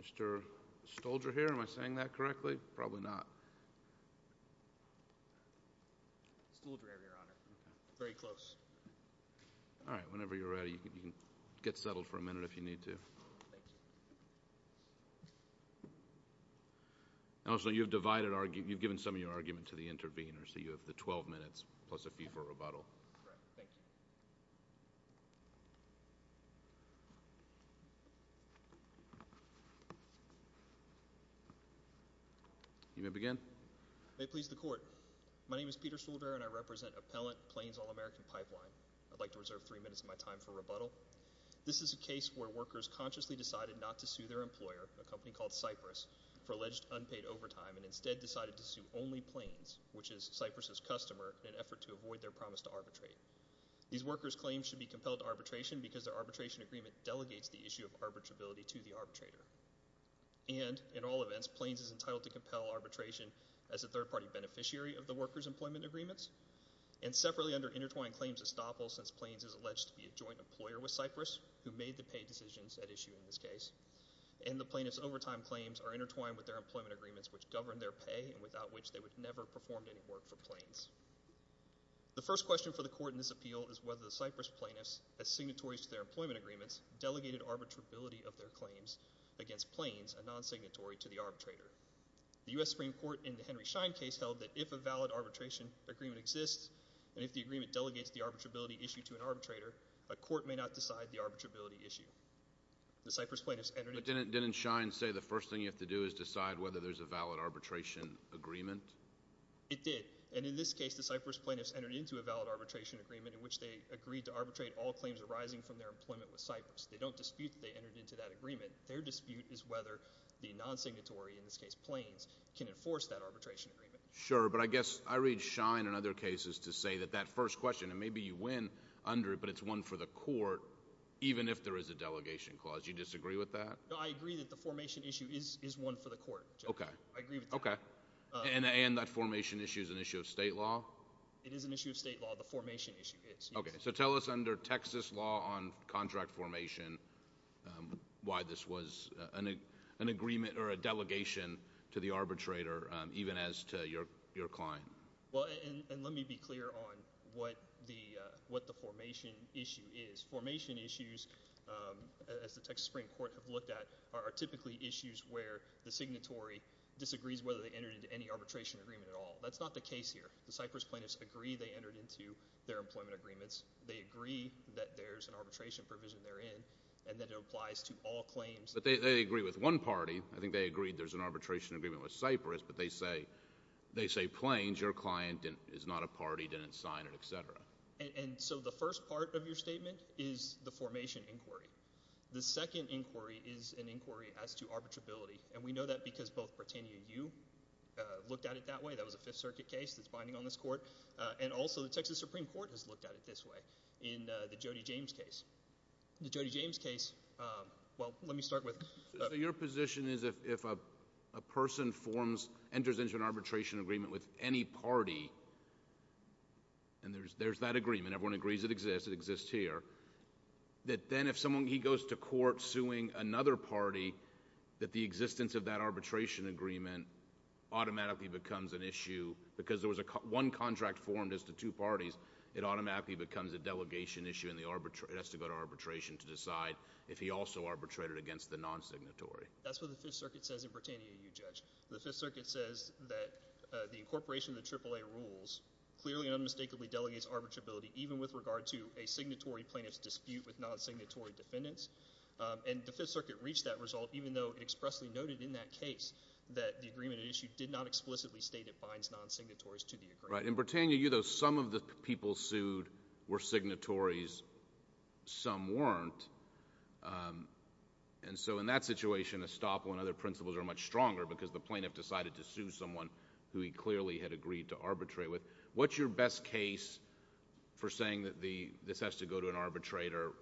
Mr. Stolzer here, am I saying that correctly? Probably not. Mr. Stolzer here, your honor. Very close. All right, whenever you're ready, you can get settled for a minute if you need to. Also, you've given some of your argument to the intervener, so you have the 12 minutes plus a fee for rebuttal. Right, thank you. You may begin. May it please the court, my name is Peter Stolzer and I represent Appellant Plains All American Pipeline. I'd like to reserve three minutes of my time for rebuttal. This is a case where workers consciously decided not to sue their employer, a company called Cypress, for alleged unpaid overtime and instead decided to sue only Plains, which is Cypress' customer, in an effort to avoid their promise to arbitrate. These workers' claims should be compelled to arbitration because their arbitration agreement delegates the issue of arbitrability to the arbitrator. And, in all events, Plains is entitled to compel arbitration as a third-party beneficiary of the workers' employment agreements and separately under intertwined claims estoppel, since Plains is alleged to be a joint employer with Cypress, who made the pay decisions at issue in this case. And the plaintiffs' overtime claims are intertwined with their employment agreements, which govern their pay and without which they would never perform any work for Plains. The first question for the court in this appeal is whether the Cypress plaintiffs, as signatories to their employment agreements, delegated arbitrability of their claims against Plains, a non-signatory, to the arbitrator. The U.S. Supreme Court, in the Henry Schein case, held that if a valid arbitration agreement exists and if the agreement delegates the arbitrability issue to an arbitrator, a court may not decide the arbitrability issue. The Cypress plaintiffs entered into… Didn't Schein say the first thing you have to do is decide whether there's a valid arbitration agreement? It did. And in this case, the Cypress plaintiffs entered into a valid arbitration agreement in which they agreed to arbitrate all claims arising from their employment with Cypress. They don't dispute that they entered into that agreement. Their dispute is whether the non-signatory, in this case Plains, can enforce that arbitration agreement. Sure, but I guess I read Schein in other cases to say that that first question, and maybe you win under it, but it's one for the court, even if there is a delegation clause. Would you disagree with that? No, I agree that the formation issue is one for the court. Okay. I agree with that. Okay. And that formation issue is an issue of state law? It is an issue of state law. The formation issue is. Okay. So tell us, under Texas law on contract formation, why this was an agreement or a delegation to the arbitrator, even as to your client. Well, and let me be clear on what the formation issue is. The formation issues, as the Texas Supreme Court have looked at, are typically issues where the signatory disagrees whether they entered into any arbitration agreement at all. That's not the case here. The Cypress plaintiffs agree they entered into their employment agreements. They agree that there's an arbitration provision therein, and that it applies to all claims. But they agree with one party. I think they agreed there's an arbitration agreement with Cypress, but they say Plains, your client is not a party, didn't sign it, et cetera. And so the first part of your statement is the formation inquiry. The second inquiry is an inquiry as to arbitrability. And we know that because both Britannia U looked at it that way. That was a Fifth Circuit case that's binding on this court. And also the Texas Supreme Court has looked at it this way in the Jody James case. The Jody James case, well, let me start with. So your position is if a person forms, enters into an arbitration agreement with any party, and there's that agreement, everyone agrees it exists, it exists here, that then if someone goes to court suing another party, that the existence of that arbitration agreement automatically becomes an issue because there was one contract formed as to two parties. It automatically becomes a delegation issue, and it has to go to arbitration to decide if he also arbitrated against the non-signatory. That's what the Fifth Circuit says in Britannia U, Judge. The Fifth Circuit says that the incorporation of the AAA rules clearly and unmistakably delegates arbitrability, even with regard to a signatory plaintiff's dispute with non-signatory defendants. And the Fifth Circuit reached that result, even though it expressly noted in that case that the agreement at issue did not explicitly state it binds non-signatories to the agreement. Right. In Britannia U, though, some of the people sued were signatories. Some weren't. And so in that situation, the plaintiff decided to sue someone who he clearly had agreed to arbitrate with. What's your best case for saying that this has to go to an arbitrator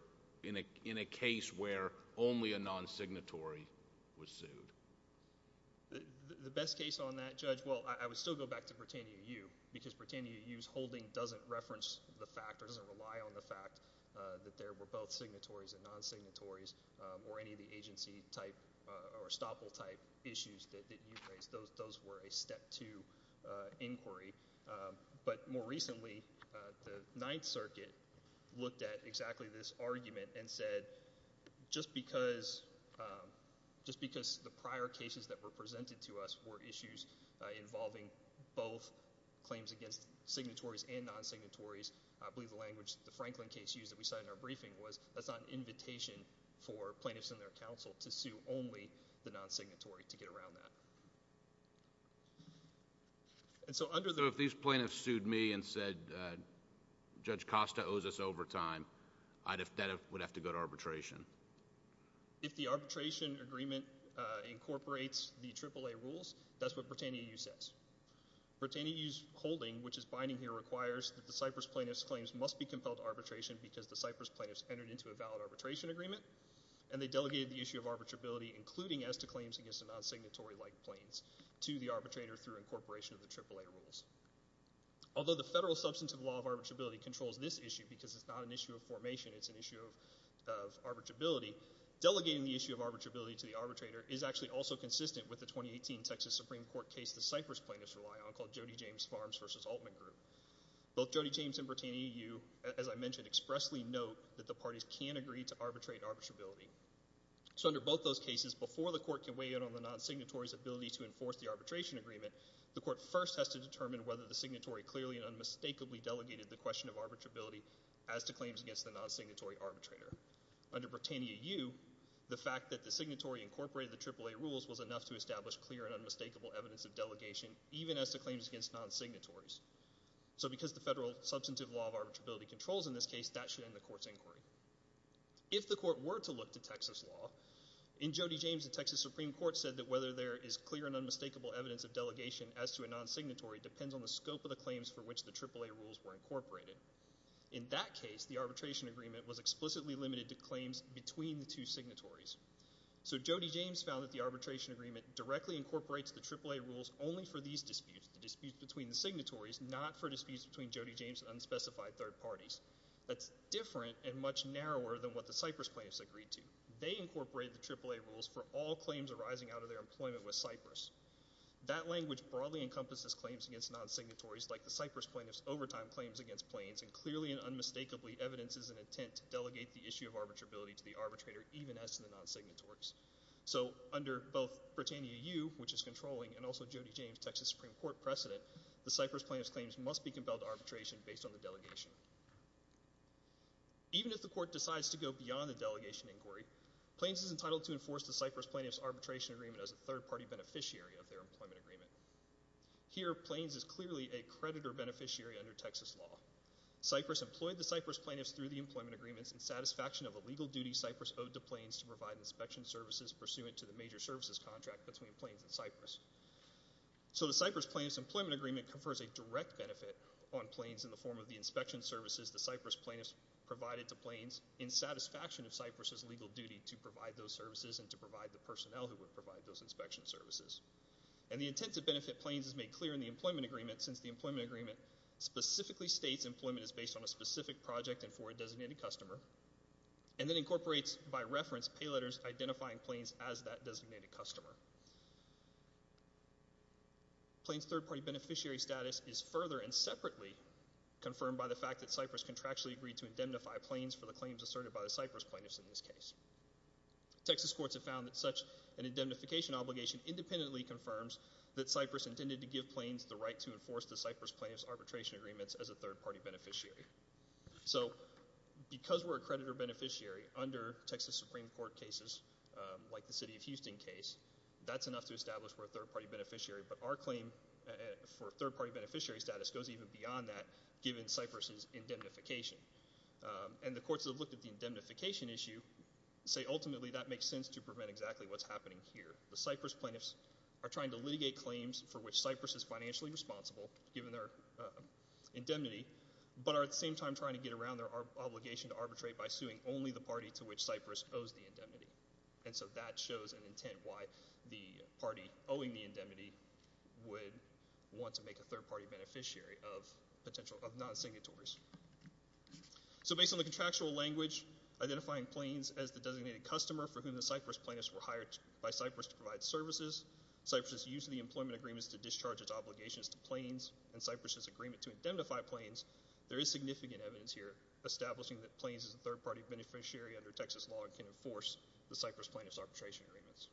in a case where only a non-signatory was sued? The best case on that, Judge, well, I would still go back to Britannia U because Britannia U's holding doesn't reference the fact or doesn't rely on the fact that there were both signatories and non-signatories or any of the agency-type or estoppel-type issues that you raised. Those were a step two inquiry. But more recently, the Ninth Circuit looked at exactly this argument and said, just because the prior cases that were presented to us were issues involving both claims against signatories and non-signatories, I believe the language the Franklin case used that we cited in our briefing was, that's not an invitation for plaintiffs and their counsel to sue only the non-signatory to get around that. So if these plaintiffs sued me and said Judge Costa owes us overtime, that would have to go to arbitration? If the arbitration agreement incorporates the AAA rules, that's what Britannia U says. Britannia U's holding, which is binding here, requires that the Cypress plaintiffs' claims must be compelled to arbitration because the Cypress plaintiffs entered into a valid arbitration agreement and they delegated the issue of arbitrability, including esti-claims against the non-signatory-like claims, to the arbitrator through incorporation of the AAA rules. Although the federal substantive law of arbitrability controls this issue because it's not an issue of formation, it's an issue of arbitrability, delegating the issue of arbitrability to the arbitrator is actually also consistent with the 2018 Texas Supreme Court case the Cypress plaintiffs rely on called Jody James Farms v. Altman Group. Both Jody James and Britannia U, as I mentioned, expressly note that the parties can agree to arbitrate arbitrability. So under both those cases, before the court can weigh in on the non-signatory's ability to enforce the arbitration agreement, the court first has to determine whether the signatory clearly and unmistakably delegated the question of arbitrability as to claims against the non-signatory arbitrator. Under Britannia U, the fact that the signatory incorporated the AAA rules was enough to establish clear and unmistakable evidence of delegation, even as to claims against non-signatories. So because the federal substantive law of arbitrability controls in this case, that should end the court's inquiry. If the court were to look to Texas law, in Jody James the Texas Supreme Court said that whether there is clear and unmistakable evidence of delegation as to a non-signatory depends on the scope of the claims for which the AAA rules were incorporated. In that case, the arbitration agreement was explicitly limited to claims between the two signatories. So Jody James found that the arbitration agreement directly incorporates the AAA rules only for these disputes, the disputes between the signatories, not for disputes between Jody James and unspecified third parties. That's different and much narrower than what the Cyprus plaintiffs agreed to. They incorporated the AAA rules for all claims arising out of their employment with Cyprus. That language broadly encompasses claims against non-signatories, like the Cyprus plaintiffs' overtime claims against planes, and clearly and unmistakably evidences an intent to delegate the issue of arbitrability to the arbitrator, even as to the non-signatories. So under both Britannia U, which is controlling, and also Jody James, Texas Supreme Court precedent, the Cyprus plaintiffs' claims must be compelled to arbitration based on the delegation. Even if the court decides to go beyond the delegation inquiry, Plains is entitled to enforce the Cyprus plaintiffs' arbitration agreement as a third-party beneficiary of their employment agreement. Here, Plains is clearly a creditor beneficiary under Texas law. Cyprus employed the Cyprus plaintiffs through the employment agreements in satisfaction of a legal duty Cyprus owed to Plains to provide inspection services pursuant to the major services contract between Plains and Cyprus. So the Cyprus plaintiffs' employment agreement confers a direct benefit on Plains in the form of the inspection services the Cyprus plaintiffs provided to Plains in satisfaction of Cyprus's legal duty to provide those services and to provide the personnel who would provide those inspection services. And the intent to benefit Plains is made clear in the employment agreement since the employment agreement specifically states employment is based on a specific project and for a designated customer, and then incorporates by reference pay letters identifying Plains as that designated customer. Plains' third-party beneficiary status is further and separately confirmed by the fact that Cyprus contractually agreed to indemnify Plains for the claims asserted by the Cyprus plaintiffs in this case. Texas courts have found that such an indemnification obligation independently confirms that Cyprus intended to give Plains the right to enforce the Cyprus plaintiffs' arbitration agreements as a third-party beneficiary. So because we're a creditor-beneficiary under Texas Supreme Court cases like the city of Houston case, that's enough to establish we're a third-party beneficiary, but our claim for third-party beneficiary status goes even beyond that given Cyprus's indemnification. And the courts have looked at the indemnification issue and say ultimately that makes sense to prevent exactly what's happening here. The Cyprus plaintiffs are trying to litigate claims for which Cyprus is financially responsible given their indemnity, but are at the same time trying to get around their obligation to arbitrate by suing only the party to which Cyprus owes the indemnity. And so that shows an intent why the party owing the indemnity would want to make a third-party beneficiary of non-signatories. So based on the contractual language, identifying Plains as the designated customer for whom the Cyprus plaintiffs were hired by Cyprus to provide services, Cyprus has used the employment agreements to discharge its obligations to Plains and Cyprus's agreement to indemnify Plains, there is significant evidence here establishing that Plains is a third-party beneficiary under Texas law and can enforce the Cyprus plaintiffs' arbitration agreements.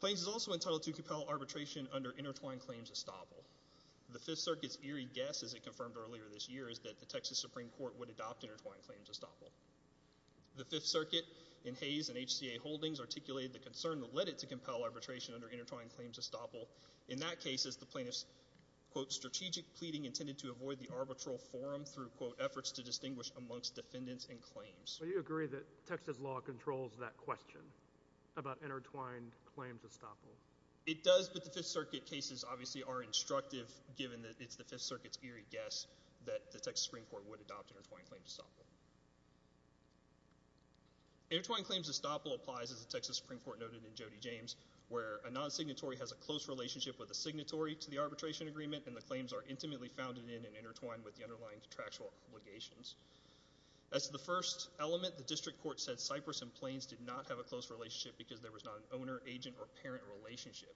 Plains is also entitled to compel arbitration under intertwined claims estoppel. The Fifth Circuit's eerie guess, as it confirmed earlier this year, is that the Texas Supreme Court would adopt intertwined claims estoppel. The Fifth Circuit, in Hays and HCA holdings, articulated the concern that led it to compel arbitration under intertwined claims estoppel. In that case, as the plaintiffs' strategic pleading intended to avoid the arbitral forum through efforts to distinguish amongst defendants and claims. So you agree that Texas law controls that question about intertwined claims estoppel? It does, but the Fifth Circuit cases obviously are instructive given that it's the Fifth Circuit's eerie guess that the Texas Supreme Court would adopt intertwined claims estoppel. Intertwined claims estoppel applies, as the Texas Supreme Court noted in Jody James, where a non-signatory has a close relationship with a signatory to the arbitration agreement and the claims are intimately founded in and intertwined with the underlying contractual obligations. As the first element, the district court said Cyprus and Plains did not have a close relationship because there was not an owner, agent, or parent relationship.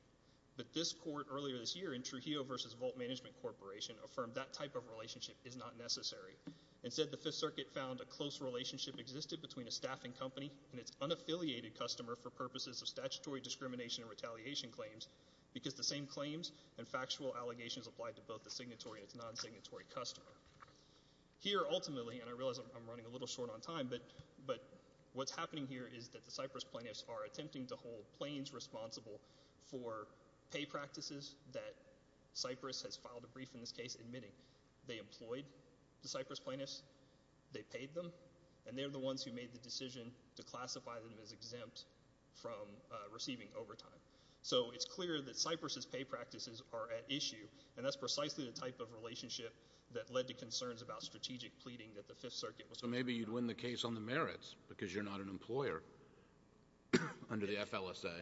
But this court, earlier this year, in Trujillo v. Vault Management Corporation, affirmed that type of relationship is not necessary. Instead, the Fifth Circuit found a close relationship existed between a staffing company and its unaffiliated customer for purposes of statutory discrimination and retaliation claims because the same claims and factual allegations applied to both the signatory and its non-signatory customer. Here, ultimately, and I realize I'm running a little short on time, but what's happening here is that the Cyprus plaintiffs are attempting to hold Plains responsible for pay practices that Cyprus has filed a brief in this case admitting. They employed the Cyprus plaintiffs, they paid them, and they're the ones who made the decision to classify them as exempt from receiving overtime. So it's clear that Cyprus's pay practices are at issue, and that's precisely the type of relationship that led to concerns about strategic pleading that the Fifth Circuit was going to have. So maybe you'd win the case on the merits because you're not an employer under the FLSA.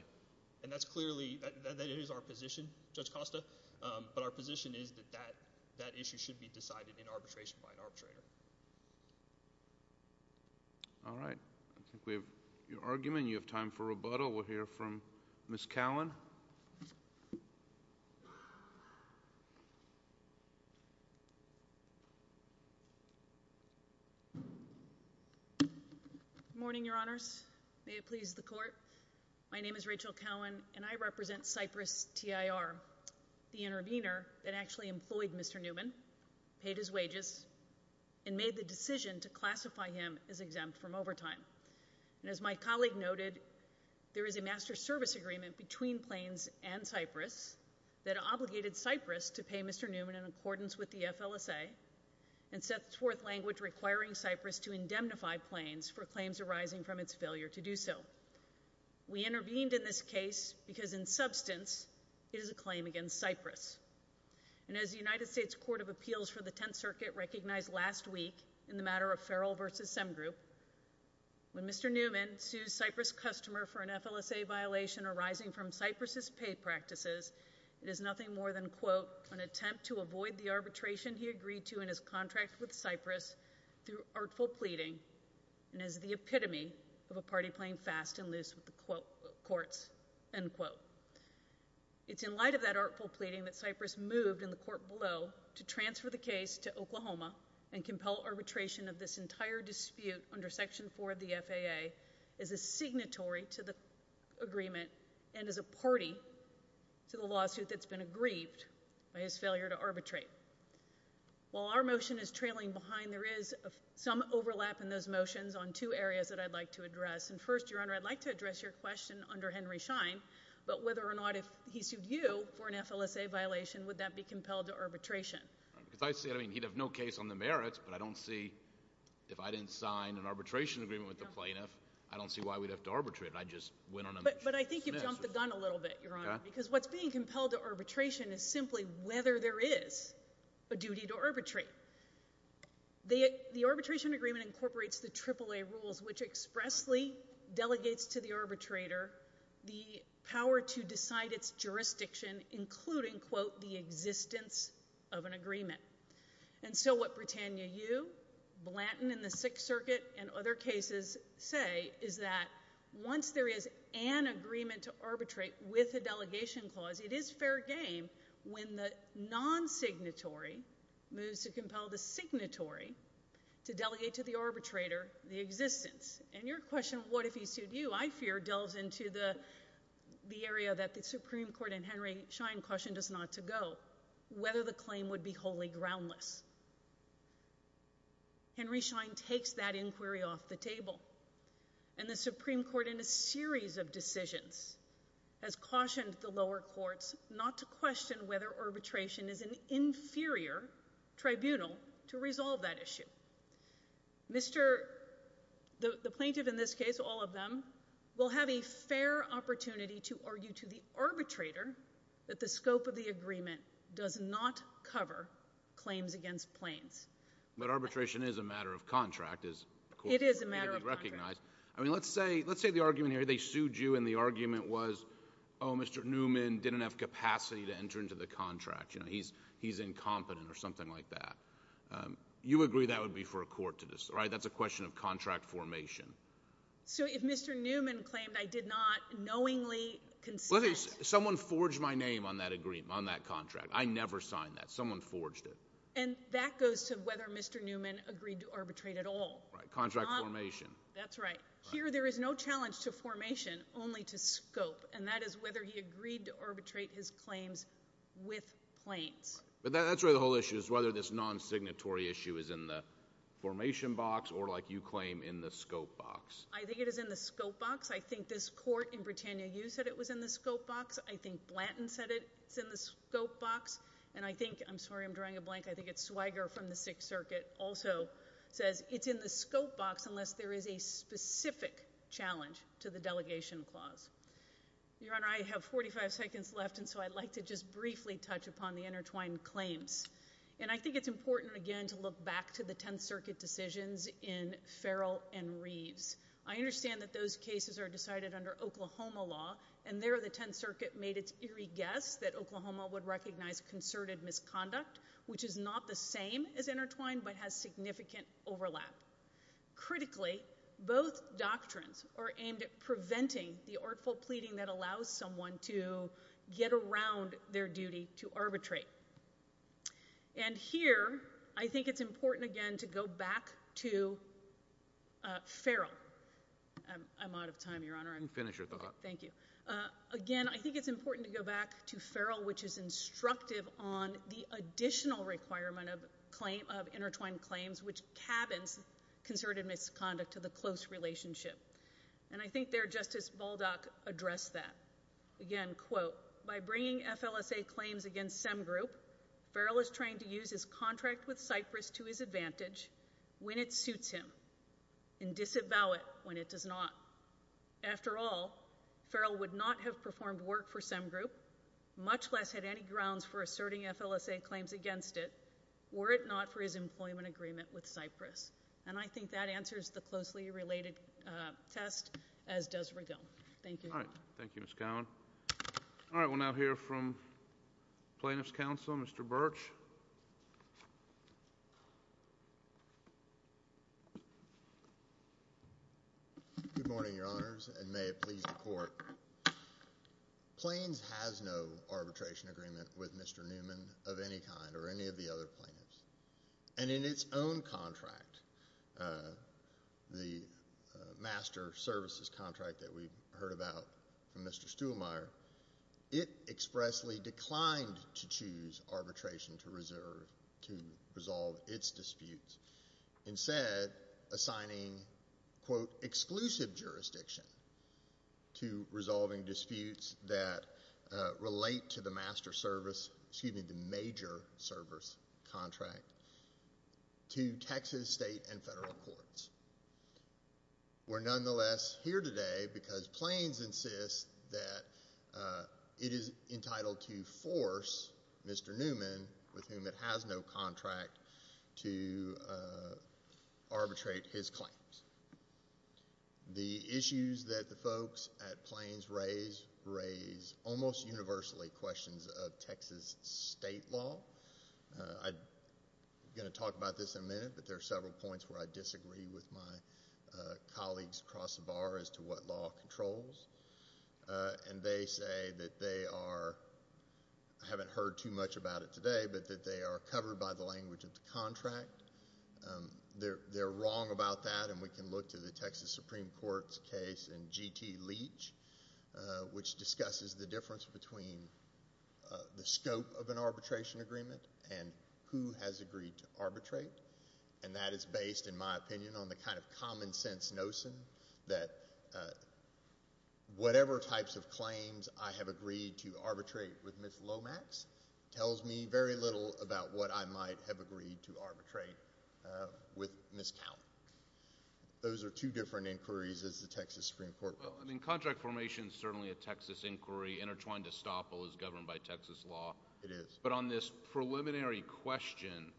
And that's clearly – that is our position, Judge Costa, but our position is that that issue should be decided in arbitration by an arbitrator. All right. I think we have your argument. You have time for rebuttal. We'll hear from Ms. Cowan. Good morning, Your Honors. May it please the Court. My name is Rachel Cowan, and I represent Cyprus TIR, the intervener that actually employed Mr. Newman, paid his wages, and made the decision to classify him as exempt from overtime. And as my colleague noted, there is a master service agreement between Plains and Cyprus that obligated Cyprus to pay Mr. Newman in accordance with the FLSA and set forth language requiring Cyprus to indemnify Plains for claims arising from its failure to do so. We intervened in this case because, in substance, it is a claim against Cyprus. And as the United States Court of Appeals for the Tenth Circuit recognized last week in the matter of Ferrell v. Semgroup, when Mr. Newman sues Cyprus' customer for an FLSA violation arising from Cyprus's pay practices, it is nothing more than, quote, an attempt to avoid the arbitration he agreed to in his contract with Cyprus through artful pleading and is the epitome of a party playing fast and loose with the courts, end quote. It's in light of that artful pleading that Cyprus moved in the court below to transfer the case to Oklahoma and compel arbitration of this entire dispute under Section 4 of the FAA as a signatory to the agreement and as a party to the lawsuit that's been aggrieved by his failure to arbitrate. While our motion is trailing behind, there is some overlap in those motions on two areas that I'd like to address. And first, Your Honor, I'd like to address your question under Henry Schein, but whether or not if he sued you for an FLSA violation, would that be compelled to arbitration? Because I see it. I mean, he'd have no case on the merits, but I don't see – if I didn't sign an arbitration agreement with the plaintiff, I don't see why we'd have to arbitrate. But I think you've jumped the gun a little bit, Your Honor, because what's being compelled to arbitration is simply whether there is a duty to arbitrate. The arbitration agreement incorporates the AAA rules, which expressly delegates to the arbitrator the power to decide its jurisdiction, including, quote, the existence of an agreement. And so what Britannia U., Blanton in the Sixth Circuit, and other cases say is that once there is an agreement to arbitrate with a delegation clause, it is fair game when the non-signatory moves to compel the signatory to delegate to the arbitrator the existence. And your question, what if he sued you, I fear, delves into the area that the Supreme Court and Henry Schein cautioned us not to go, whether the claim would be wholly groundless. Henry Schein takes that inquiry off the table, and the Supreme Court, in a series of decisions, has cautioned the lower courts not to question whether arbitration is an inferior tribunal to resolve that issue. The plaintiff in this case, all of them, will have a fair opportunity to argue to the arbitrator that the scope of the agreement does not cover claims against Plains. But arbitration is a matter of contract, as, of course, you recognize. It is a matter of contract. I mean, let's say the argument here, they sued you, and the argument was, oh, Mr. Newman didn't have capacity to enter into the contract. He's incompetent, or something like that. You agree that would be for a court to decide. That's a question of contract formation. So if Mr. Newman claimed, I did not knowingly consent. Let's say someone forged my name on that agreement, on that contract. I never signed that. Someone forged it. And that goes to whether Mr. Newman agreed to arbitrate at all. Contract formation. That's right. Here, there is no challenge to formation, only to scope, and that is whether he agreed to arbitrate his claims with Plains. But that's where the whole issue is, whether this non-signatory issue is in the formation box, or like you claim, in the scope box. I think it is in the scope box. I think this court in Britannia, you said it was in the scope box. I think Blanton said it's in the scope box. And I think, I'm sorry, I'm drawing a blank, I think it's Swiger from the Sixth Circuit also says it's in the scope box unless there is a specific challenge to the delegation clause. Your Honor, I have 45 seconds left, and so I'd like to just briefly touch upon the intertwined claims. And I think it's important, again, to look back to the Tenth Circuit decisions in Farrell and Reeves. I understand that those cases are decided under Oklahoma law, and there the Tenth Circuit made its eerie guess that Oklahoma would recognize concerted misconduct, which is not the same as intertwined but has significant overlap. Critically, both doctrines are aimed at preventing the artful pleading that allows someone to get around their duty to arbitrate. And here, I think it's important, again, to go back to Farrell. I'm out of time, Your Honor. You can finish your thought. Thank you. Again, I think it's important to go back to Farrell, which is instructive on the additional requirement of intertwined claims which cabins concerted misconduct to the close relationship. And I think there Justice Baldock addressed that. Again, quote, by bringing FLSA claims against SEM Group, Farrell is trying to use his contract with Cyprus to his advantage when it suits him and disavow it when it does not. After all, Farrell would not have performed work for SEM Group, much less had any grounds for asserting FLSA claims against it were it not for his employment agreement with Cyprus. And I think that answers the closely related test, as does Regal. Thank you. All right. Thank you, Ms. Cowan. All right, we'll now hear from Plaintiff's Counsel, Mr. Birch. Good morning, Your Honors, and may it please the Court. Plains has no arbitration agreement with Mr. Newman of any kind or any of the other plaintiffs. And in its own contract, the Master Services contract that we heard about from Mr. Stuhlmeier, it expressly declined to choose arbitration to resolve its disputes, instead assigning, quote, exclusive jurisdiction to resolving disputes that relate to the Master Service, excuse me, the Major Service contract, to Texas state and federal courts. We're nonetheless here today because Plains insists that it is entitled to force Mr. Newman, with whom it has no contract, to arbitrate his claims. The issues that the folks at Plains raise almost universally questions of Texas state law. I'm going to talk about this in a minute, but there are several points where I disagree with my colleagues across the bar as to what law controls. And they say that they are, I haven't heard too much about it today, but that they are covered by the language of the contract. They're wrong about that, and we can look to the Texas Supreme Court's case in G.T. Leach, which discusses the difference between the scope of an arbitration agreement and who has agreed to arbitrate. And that is based, in my opinion, on the kind of common sense notion that whatever types of claims I have agreed to arbitrate with Ms. Lomax tells me very little about what I might have agreed to arbitrate with Ms. Cowen. Those are two different inquiries, as the Texas Supreme Court will. Well, I mean, contract formation is certainly a Texas inquiry. Intertwined estoppel is governed by Texas law. It is. But on this preliminary question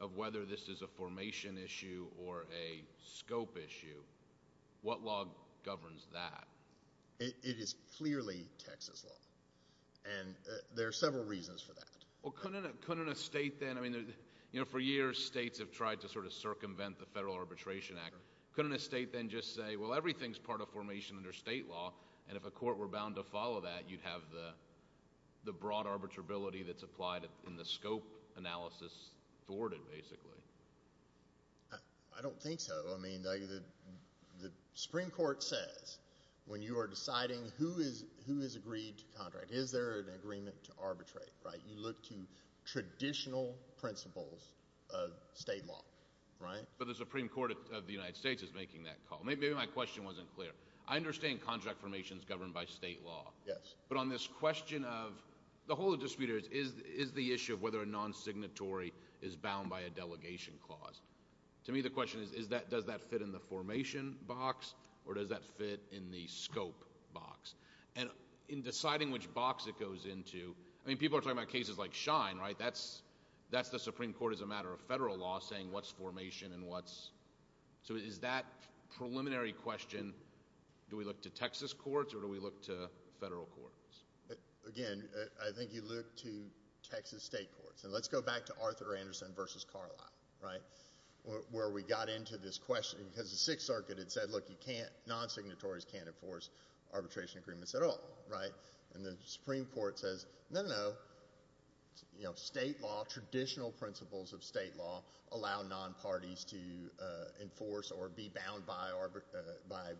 of whether this is a formation issue or a scope issue, what law governs that? It is clearly Texas law, and there are several reasons for that. Well, couldn't a state then, I mean, for years states have tried to sort of circumvent the Federal Arbitration Act. Couldn't a state then just say, well, everything is part of formation under state law, and if a court were bound to follow that, you'd have the broad arbitrability that's applied in the scope analysis thwarted, basically. I don't think so. I mean, the Supreme Court says when you are deciding who has agreed to contract, is there an agreement to arbitrate, right? You look to traditional principles of state law, right? But the Supreme Court of the United States is making that call. Maybe my question wasn't clear. I understand contract formation is governed by state law. Yes. But on this question of the whole of the dispute is the issue of whether a non-signatory is bound by a delegation clause. To me, the question is does that fit in the formation box or does that fit in the scope box? And in deciding which box it goes into, I mean, people are talking about cases like Schein, right? That's the Supreme Court as a matter of federal law saying what's formation and what's – so is that preliminary question do we look to Texas courts or do we look to federal courts? Again, I think you look to Texas state courts. And let's go back to Arthur Anderson v. Carlisle, right, where we got into this question because the Sixth Circuit had said, look, you can't – non-signatories can't enforce arbitration agreements at all, right? And the Supreme Court says, no, no, no, state law, traditional principles of state law allow non-parties to enforce or be bound by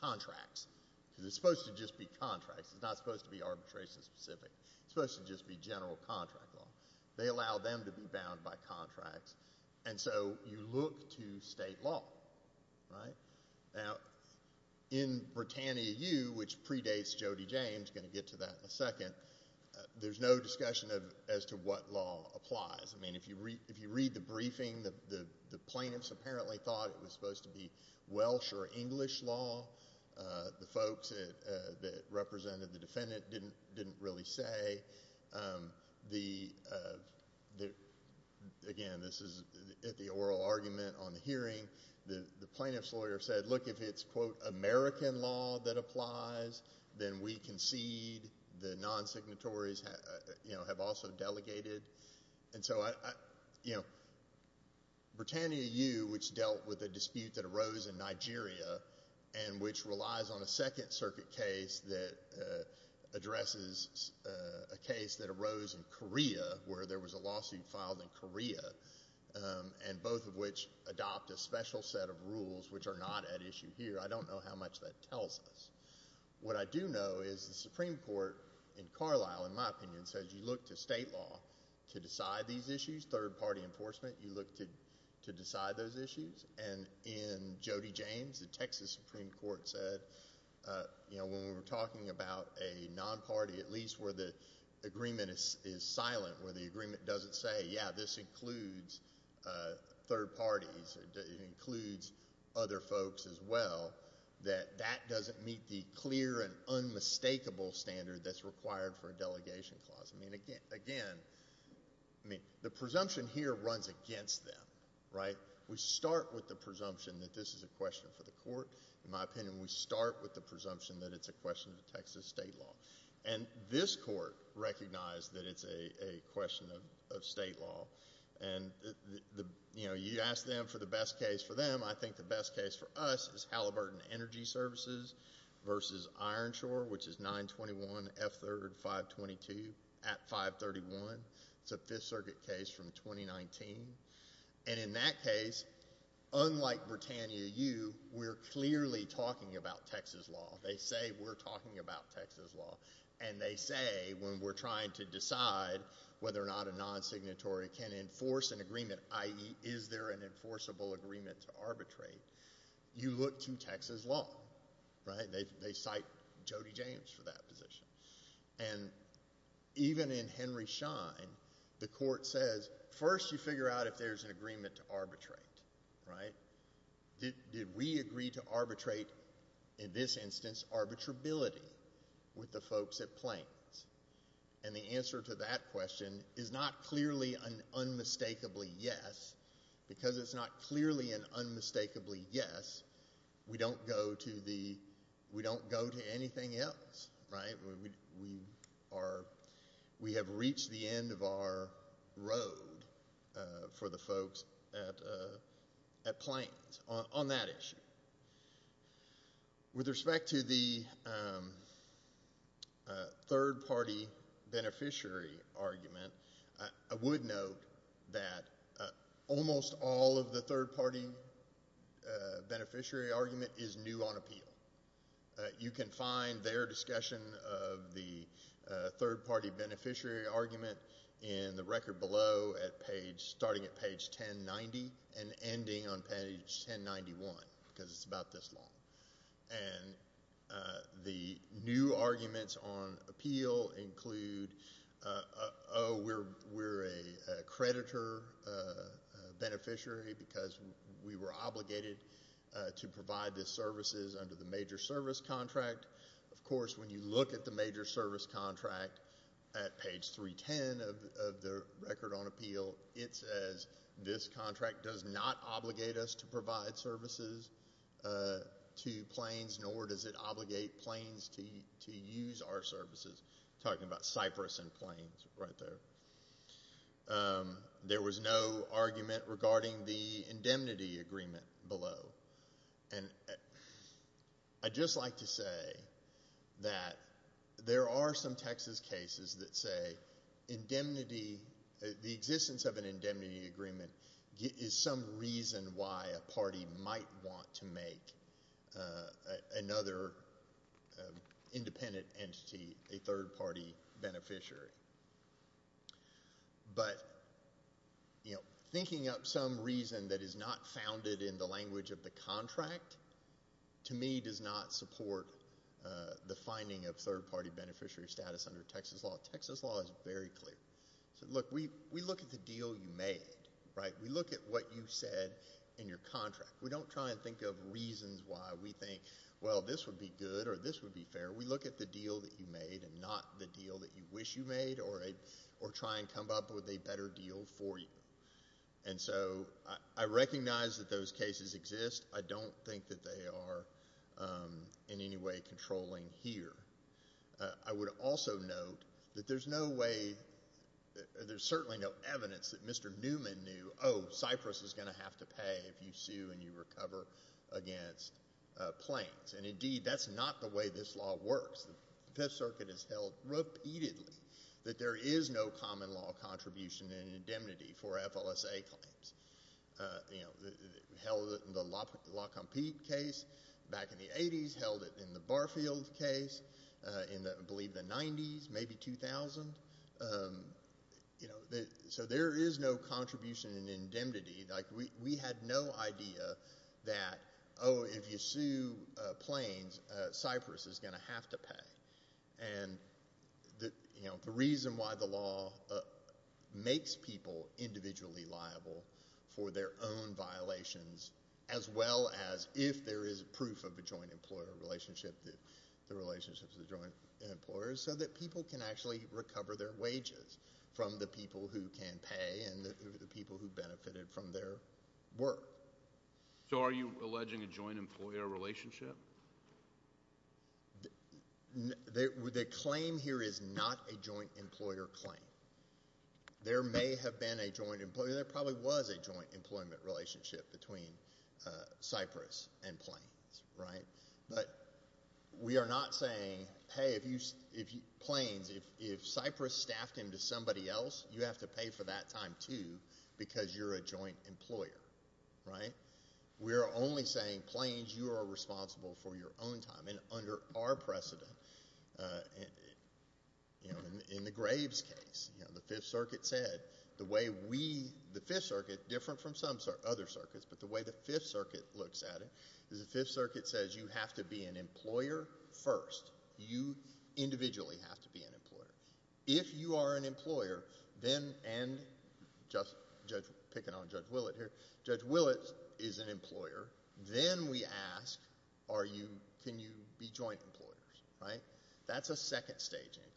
contracts because it's supposed to just be contracts. It's not supposed to be arbitration-specific. It's supposed to just be general contract law. They allow them to be bound by contracts. And so you look to state law, right? Now, in Britannia U, which predates Jody James – going to get to that in a second – there's no discussion as to what law applies. I mean, if you read the briefing, the plaintiffs apparently thought it was supposed to be Welsh or English law. The folks that represented the defendant didn't really say. Again, this is at the oral argument on the hearing. The plaintiff's lawyer said, look, if it's, quote, American law that applies, then we concede. The non-signatories have also delegated. And so Britannia U, which dealt with a dispute that arose in Nigeria and which relies on a Second Circuit case that addresses a case that arose in Korea, where there was a lawsuit filed in Korea, and both of which adopt a special set of rules which are not at issue here. I don't know how much that tells us. What I do know is the Supreme Court in Carlisle, in my opinion, says you look to state law to decide these issues. Third-party enforcement, you look to decide those issues. And in Jody James, the Texas Supreme Court said, you know, when we were talking about a non-party, at least where the agreement is silent, where the agreement doesn't say, yeah, this includes third parties, it includes other folks as well, that that doesn't meet the clear and unmistakable standard that's required for a delegation clause. I mean, again, the presumption here runs against them, right? We start with the presumption that this is a question for the court. In my opinion, we start with the presumption that it's a question of Texas state law. And this court recognized that it's a question of state law. And, you know, you ask them for the best case for them. I think the best case for us is Halliburton Energy Services versus Ironshore, which is 921 F3rd 522 at 531. It's a Fifth Circuit case from 2019. And in that case, unlike Britannia U, we're clearly talking about Texas law. They say we're talking about Texas law. And they say when we're trying to decide whether or not a non-signatory can enforce an agreement, i.e., is there an enforceable agreement to arbitrate, you look to Texas law, right? They cite Jody James for that position. And even in Henry Schein, the court says first you figure out if there's an agreement to arbitrate, right? Did we agree to arbitrate, in this instance, arbitrability with the folks at Planes? And the answer to that question is not clearly an unmistakably yes. Because it's not clearly an unmistakably yes, we don't go to anything else, right? We have reached the end of our road for the folks at Planes on that issue. With respect to the third-party beneficiary argument, I would note that almost all of the third-party beneficiary argument is new on appeal. You can find their discussion of the third-party beneficiary argument in the record below, starting at page 1090 and ending on page 1091, because it's about this long. And the new arguments on appeal include, oh, we're a creditor beneficiary because we were obligated to provide the services under the major service contract. Of course, when you look at the major service contract at page 310 of the record on appeal, it says this contract does not obligate us to provide services to Planes, nor does it obligate Planes to use our services. Talking about Cyprus and Planes right there. There was no argument regarding the indemnity agreement below. And I'd just like to say that there are some Texas cases that say the existence of an indemnity agreement is some reason why a party might want to make another independent entity a third-party beneficiary. But thinking up some reason that is not founded in the language of the contract, to me, does not support the finding of third-party beneficiary status under Texas law. Texas law is very clear. Look, we look at the deal you made, right? We look at what you said in your contract. We don't try and think of reasons why we think, well, this would be good or this would be fair. We look at the deal that you made and not the deal that you wish you made or try and come up with a better deal for you. And so I recognize that those cases exist. I don't think that they are in any way controlling here. I would also note that there's no way or there's certainly no evidence that Mr. Newman knew, oh, Cyprus is going to have to pay if you sue and you recover against Planes. And, indeed, that's not the way this law works. The Fifth Circuit has held repeatedly that there is no common law contribution in indemnity for FLSA claims. It held it in the La Compete case back in the 80s. It held it in the Barfield case in, I believe, the 90s, maybe 2000. So there is no contribution in indemnity. We had no idea that, oh, if you sue Planes, Cyprus is going to have to pay. And the reason why the law makes people individually liable for their own violations, as well as if there is proof of a joint employer relationship, the relationships of the joint employers, so that people can actually recover their wages from the people who can pay and the people who benefited from their work. So are you alleging a joint employer relationship? The claim here is not a joint employer claim. There may have been a joint employer. There probably was a joint employment relationship between Cyprus and Planes, right? But we are not saying, hey, Planes, if Cyprus staffed him to somebody else, you have to pay for that time, too, because you're a joint employer, right? We are only saying, Planes, you are responsible for your own time. And under our precedent, in the Graves case, the Fifth Circuit said the way we, the Fifth Circuit, different from some other circuits, but the way the Fifth Circuit looks at it is the Fifth Circuit says you have to be an employer first. If you are an employer, then, and just picking on Judge Willett here, Judge Willett is an employer. Then we ask, are you, can you be joint employers, right? That's a second stage inquiry.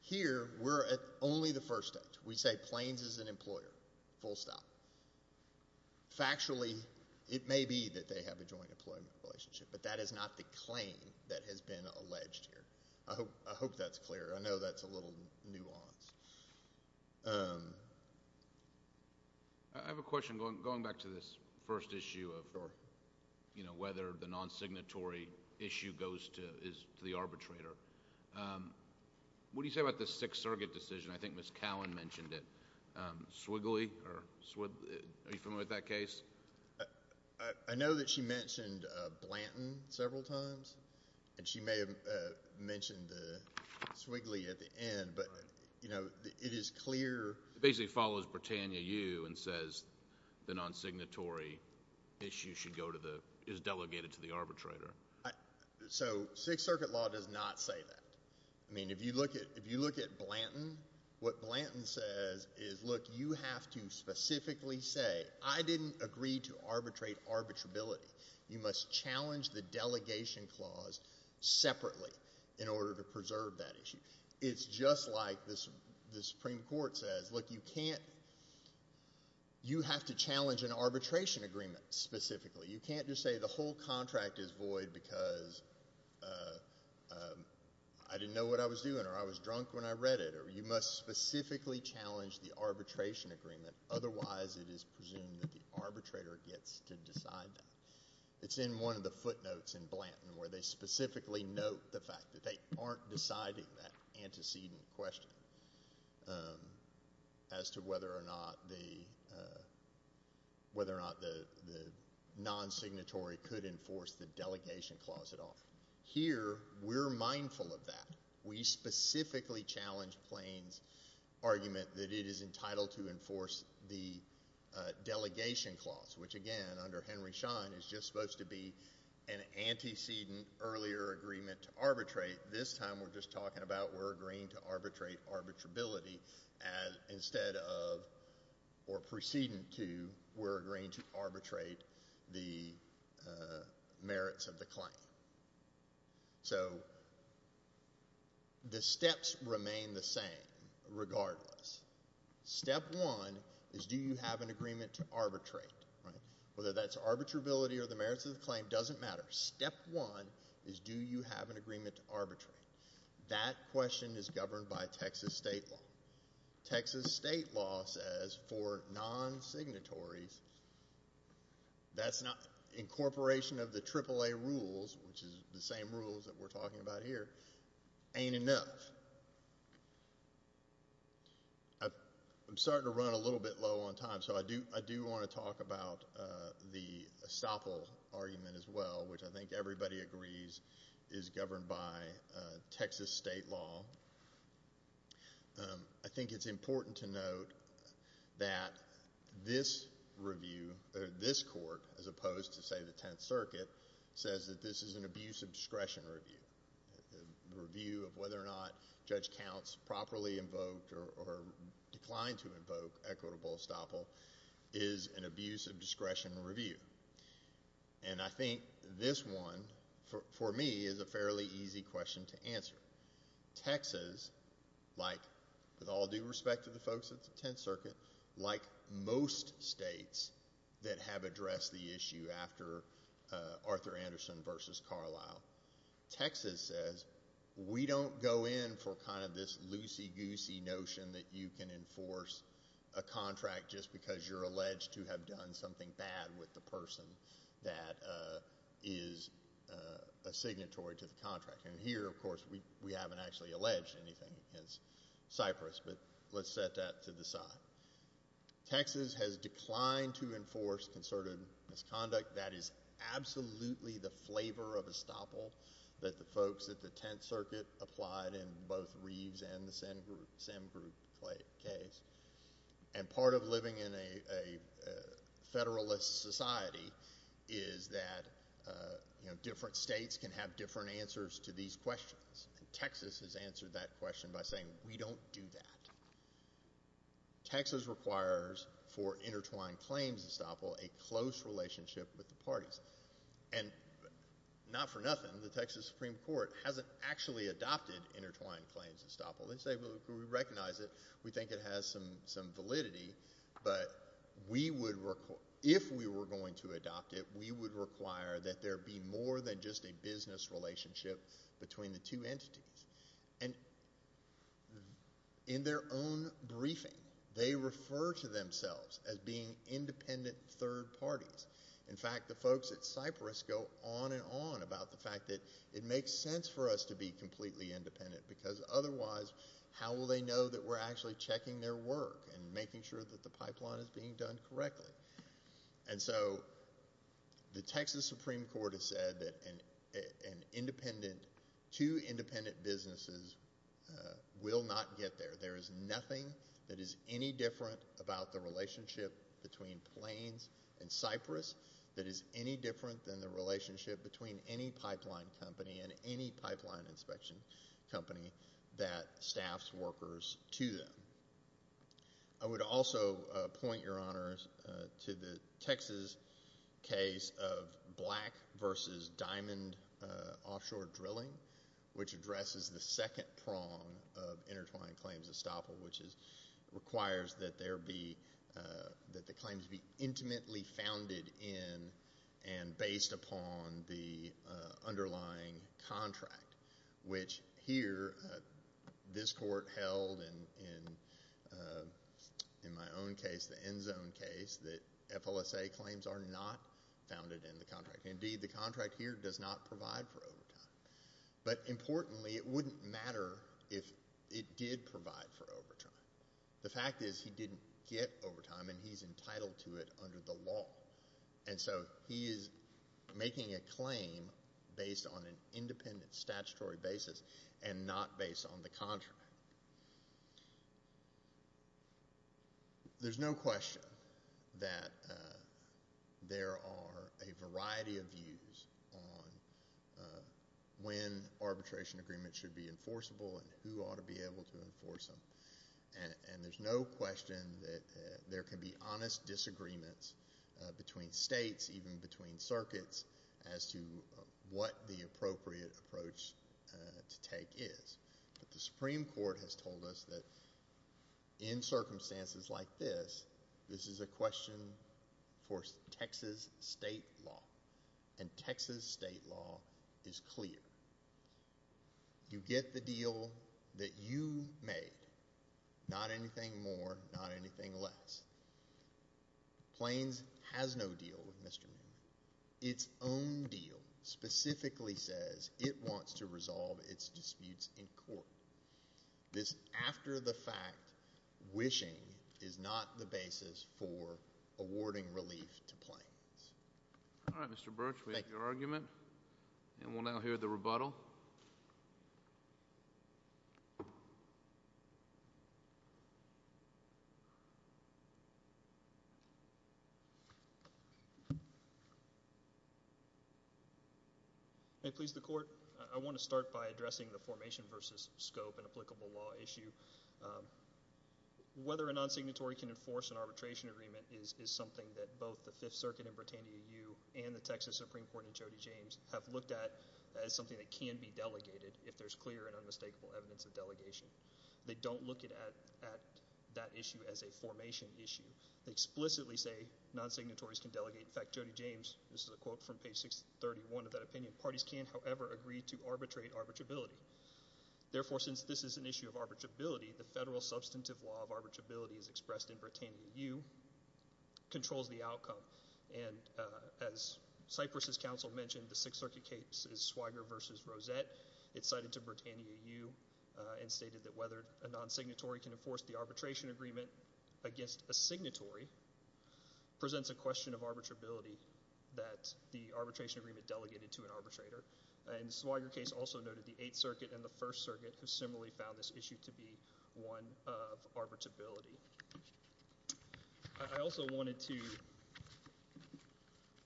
Here, we're at only the first stage. We say Planes is an employer, full stop. Factually, it may be that they have a joint employment relationship, but that is not the claim that has been alleged here. I hope that's clear. I know that's a little nuanced. I have a question going back to this first issue of whether the non-signatory issue goes to the arbitrator. What do you say about the Sixth Circuit decision? I think Ms. Cowan mentioned it. Swigly, are you familiar with that case? I know that she mentioned Blanton several times, and she may have mentioned Swigly at the end, but it is clear. It basically follows Britannia U and says the non-signatory issue should go to the, is delegated to the arbitrator. So Sixth Circuit law does not say that. I mean, if you look at Blanton, what Blanton says is, look, you have to specifically say, I didn't agree to arbitrate arbitrability. You must challenge the delegation clause separately in order to preserve that issue. It's just like the Supreme Court says, look, you can't, you have to challenge an arbitration agreement specifically. You can't just say the whole contract is void because I didn't know what I was doing or I was drunk when I read it. You must specifically challenge the arbitration agreement. Otherwise, it is presumed that the arbitrator gets to decide that. It's in one of the footnotes in Blanton where they specifically note the fact that they aren't deciding that antecedent question as to whether or not the non-signatory could enforce the delegation clause at all. Here, we're mindful of that. We specifically challenge Plains' argument that it is entitled to enforce the delegation clause, which again under Henry Schein is just supposed to be an antecedent earlier agreement to arbitrate. This time, we're just talking about we're agreeing to arbitrate arbitrability instead of, or preceding to, we're agreeing to arbitrate the merits of the claim. So the steps remain the same regardless. Step one is do you have an agreement to arbitrate? Whether that's arbitrability or the merits of the claim doesn't matter. Step one is do you have an agreement to arbitrate? That question is governed by Texas state law. Texas state law says for non-signatories, that's not incorporation of the AAA rules, which is the same rules that we're talking about here, ain't enough. I'm starting to run a little bit low on time, so I do want to talk about the estoppel argument as well, which I think everybody agrees is governed by Texas state law. I think it's important to note that this review, this court, as opposed to, say, the Tenth Circuit, says that this is an abuse of discretion review, a review of whether or not Judge Counts properly invoked or declined to invoke equitable estoppel is an abuse of discretion review. And I think this one, for me, is a fairly easy question to answer. Texas, like, with all due respect to the folks at the Tenth Circuit, like most states that have addressed the issue after Arthur Anderson v. Carlisle, Texas says we don't go in for kind of this loosey-goosey notion that you can enforce a contract just because you're alleged to have done something bad with the person that is a signatory to the contract. And here, of course, we haven't actually alleged anything against Cyprus, but let's set that to the side. Texas has declined to enforce concerted misconduct. That is absolutely the flavor of estoppel that the folks at the Tenth Circuit applied in both Reeves and the Sim group case. And part of living in a Federalist society is that, you know, different states can have different answers to these questions. And Texas has answered that question by saying we don't do that. Texas requires for intertwined claims estoppel a close relationship with the parties. And not for nothing, the Texas Supreme Court hasn't actually adopted intertwined claims estoppel. They say, well, we recognize it. We think it has some validity. But if we were going to adopt it, we would require that there be more than just a business relationship between the two entities. And in their own briefing, they refer to themselves as being independent third parties. In fact, the folks at Cyprus go on and on about the fact that it makes sense for us to be completely independent because otherwise how will they know that we're actually checking their work and making sure that the pipeline is being done correctly? And so the Texas Supreme Court has said that two independent businesses will not get there. There is nothing that is any different about the relationship between Plains and Cyprus that is any different than the relationship between any pipeline company and any pipeline inspection company that staffs workers to them. I would also point, Your Honors, to the Texas case of Black v. Diamond Offshore Drilling, which addresses the second prong of intertwined claims estoppel, which requires that the claims be intimately founded in and based upon the underlying contract, which here this court held in my own case, the end zone case, that FLSA claims are not founded in the contract. Indeed, the contract here does not provide for overtime. But importantly, it wouldn't matter if it did provide for overtime. The fact is he didn't get overtime, and he's entitled to it under the law. And so he is making a claim based on an independent statutory basis and not based on the contract. There's no question that there are a variety of views on when arbitration agreements should be enforceable and who ought to be able to enforce them. And there's no question that there can be honest disagreements between states, even between circuits, as to what the appropriate approach to take is. But the Supreme Court has told us that in circumstances like this, this is a question for Texas state law. And Texas state law is clear. You get the deal that you made, not anything more, not anything less. Plains has no deal with Mr. Newman. Its own deal specifically says it wants to resolve its disputes in court. This after-the-fact wishing is not the basis for awarding relief to Plains. All right, Mr. Birch, we have your argument. And we'll now hear the rebuttal. May it please the Court, I want to start by addressing the formation versus scope and applicable law issue. Whether a non-signatory can enforce an arbitration agreement is something that both the Fifth Circuit and Britannia U.U. and the Texas Supreme Court and Jody James have looked at as something that can be delegated if there's clear and unmistakable evidence of delegation. They don't look at that issue as a formation issue. They explicitly say non-signatories can delegate. In fact, Jody James, this is a quote from page 631 of that opinion, parties can, however, agree to arbitrate arbitrability. Therefore, since this is an issue of arbitrability, the federal substantive law of arbitrability as expressed in Britannia U.U. controls the outcome. And as Cypress' counsel mentioned, the Sixth Circuit case is Swiger v. Rosette. It's cited to Britannia U.U. and stated that whether a non-signatory can enforce the arbitration agreement against a signatory presents a question of arbitrability that the arbitration agreement delegated to an arbitrator. And the Swiger case also noted the Eighth Circuit and the First Circuit who similarly found this issue to be one of arbitrability. I also wanted to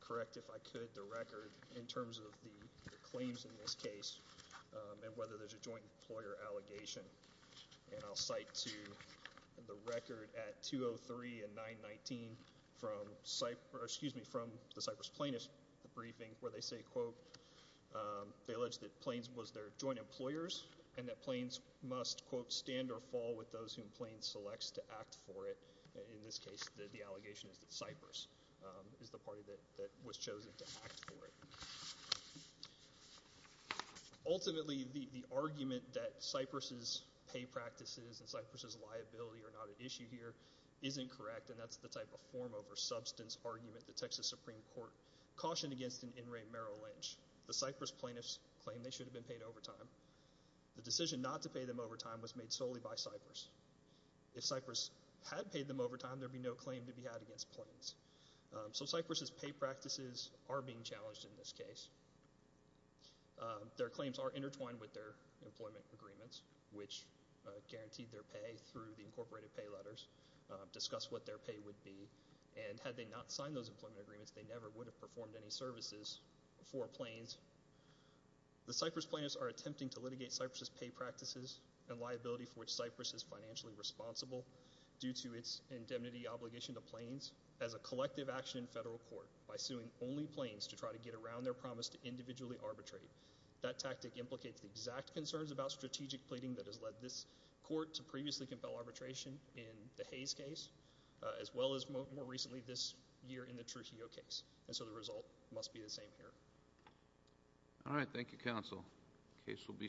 correct, if I could, the record in terms of the claims in this case and whether there's a joint employer allegation. And I'll cite to the record at 203 and 919 from the Cypress plaintiffs' briefing where they say, quote, they allege that Plains was their joint employers and that Plains must, quote, stand or fall with those whom Plains selects to act for it. In this case, the allegation is that Cypress is the party that was chosen to act for it. Ultimately, the argument that Cypress' pay practices and Cypress' liability are not an issue here is incorrect, and that's the type of form over substance argument the Texas Supreme Court cautioned against in In re Merrill Lynch. The Cypress plaintiffs claim they should have been paid overtime. The decision not to pay them overtime was made solely by Cypress. If Cypress had paid them overtime, there would be no claim to be had against Plains. So Cypress' pay practices are being challenged in this case. Their claims are intertwined with their employment agreements, which guaranteed their pay through the incorporated pay letters, discuss what their pay would be, and had they not signed those employment agreements, they never would have performed any services for Plains. The Cypress plaintiffs are attempting to litigate Cypress' pay practices and liability for which Cypress is financially responsible due to its indemnity obligation to Plains as a collective action in federal court by suing only Plains to try to get around their promise to individually arbitrate. That tactic implicates the exact concerns about strategic pleading that has led this court to previously compel arbitration in the Hayes case as well as more recently this year in the Trujillo case. And so the result must be the same here. All right. Thank you, counsel. Case will be submitted.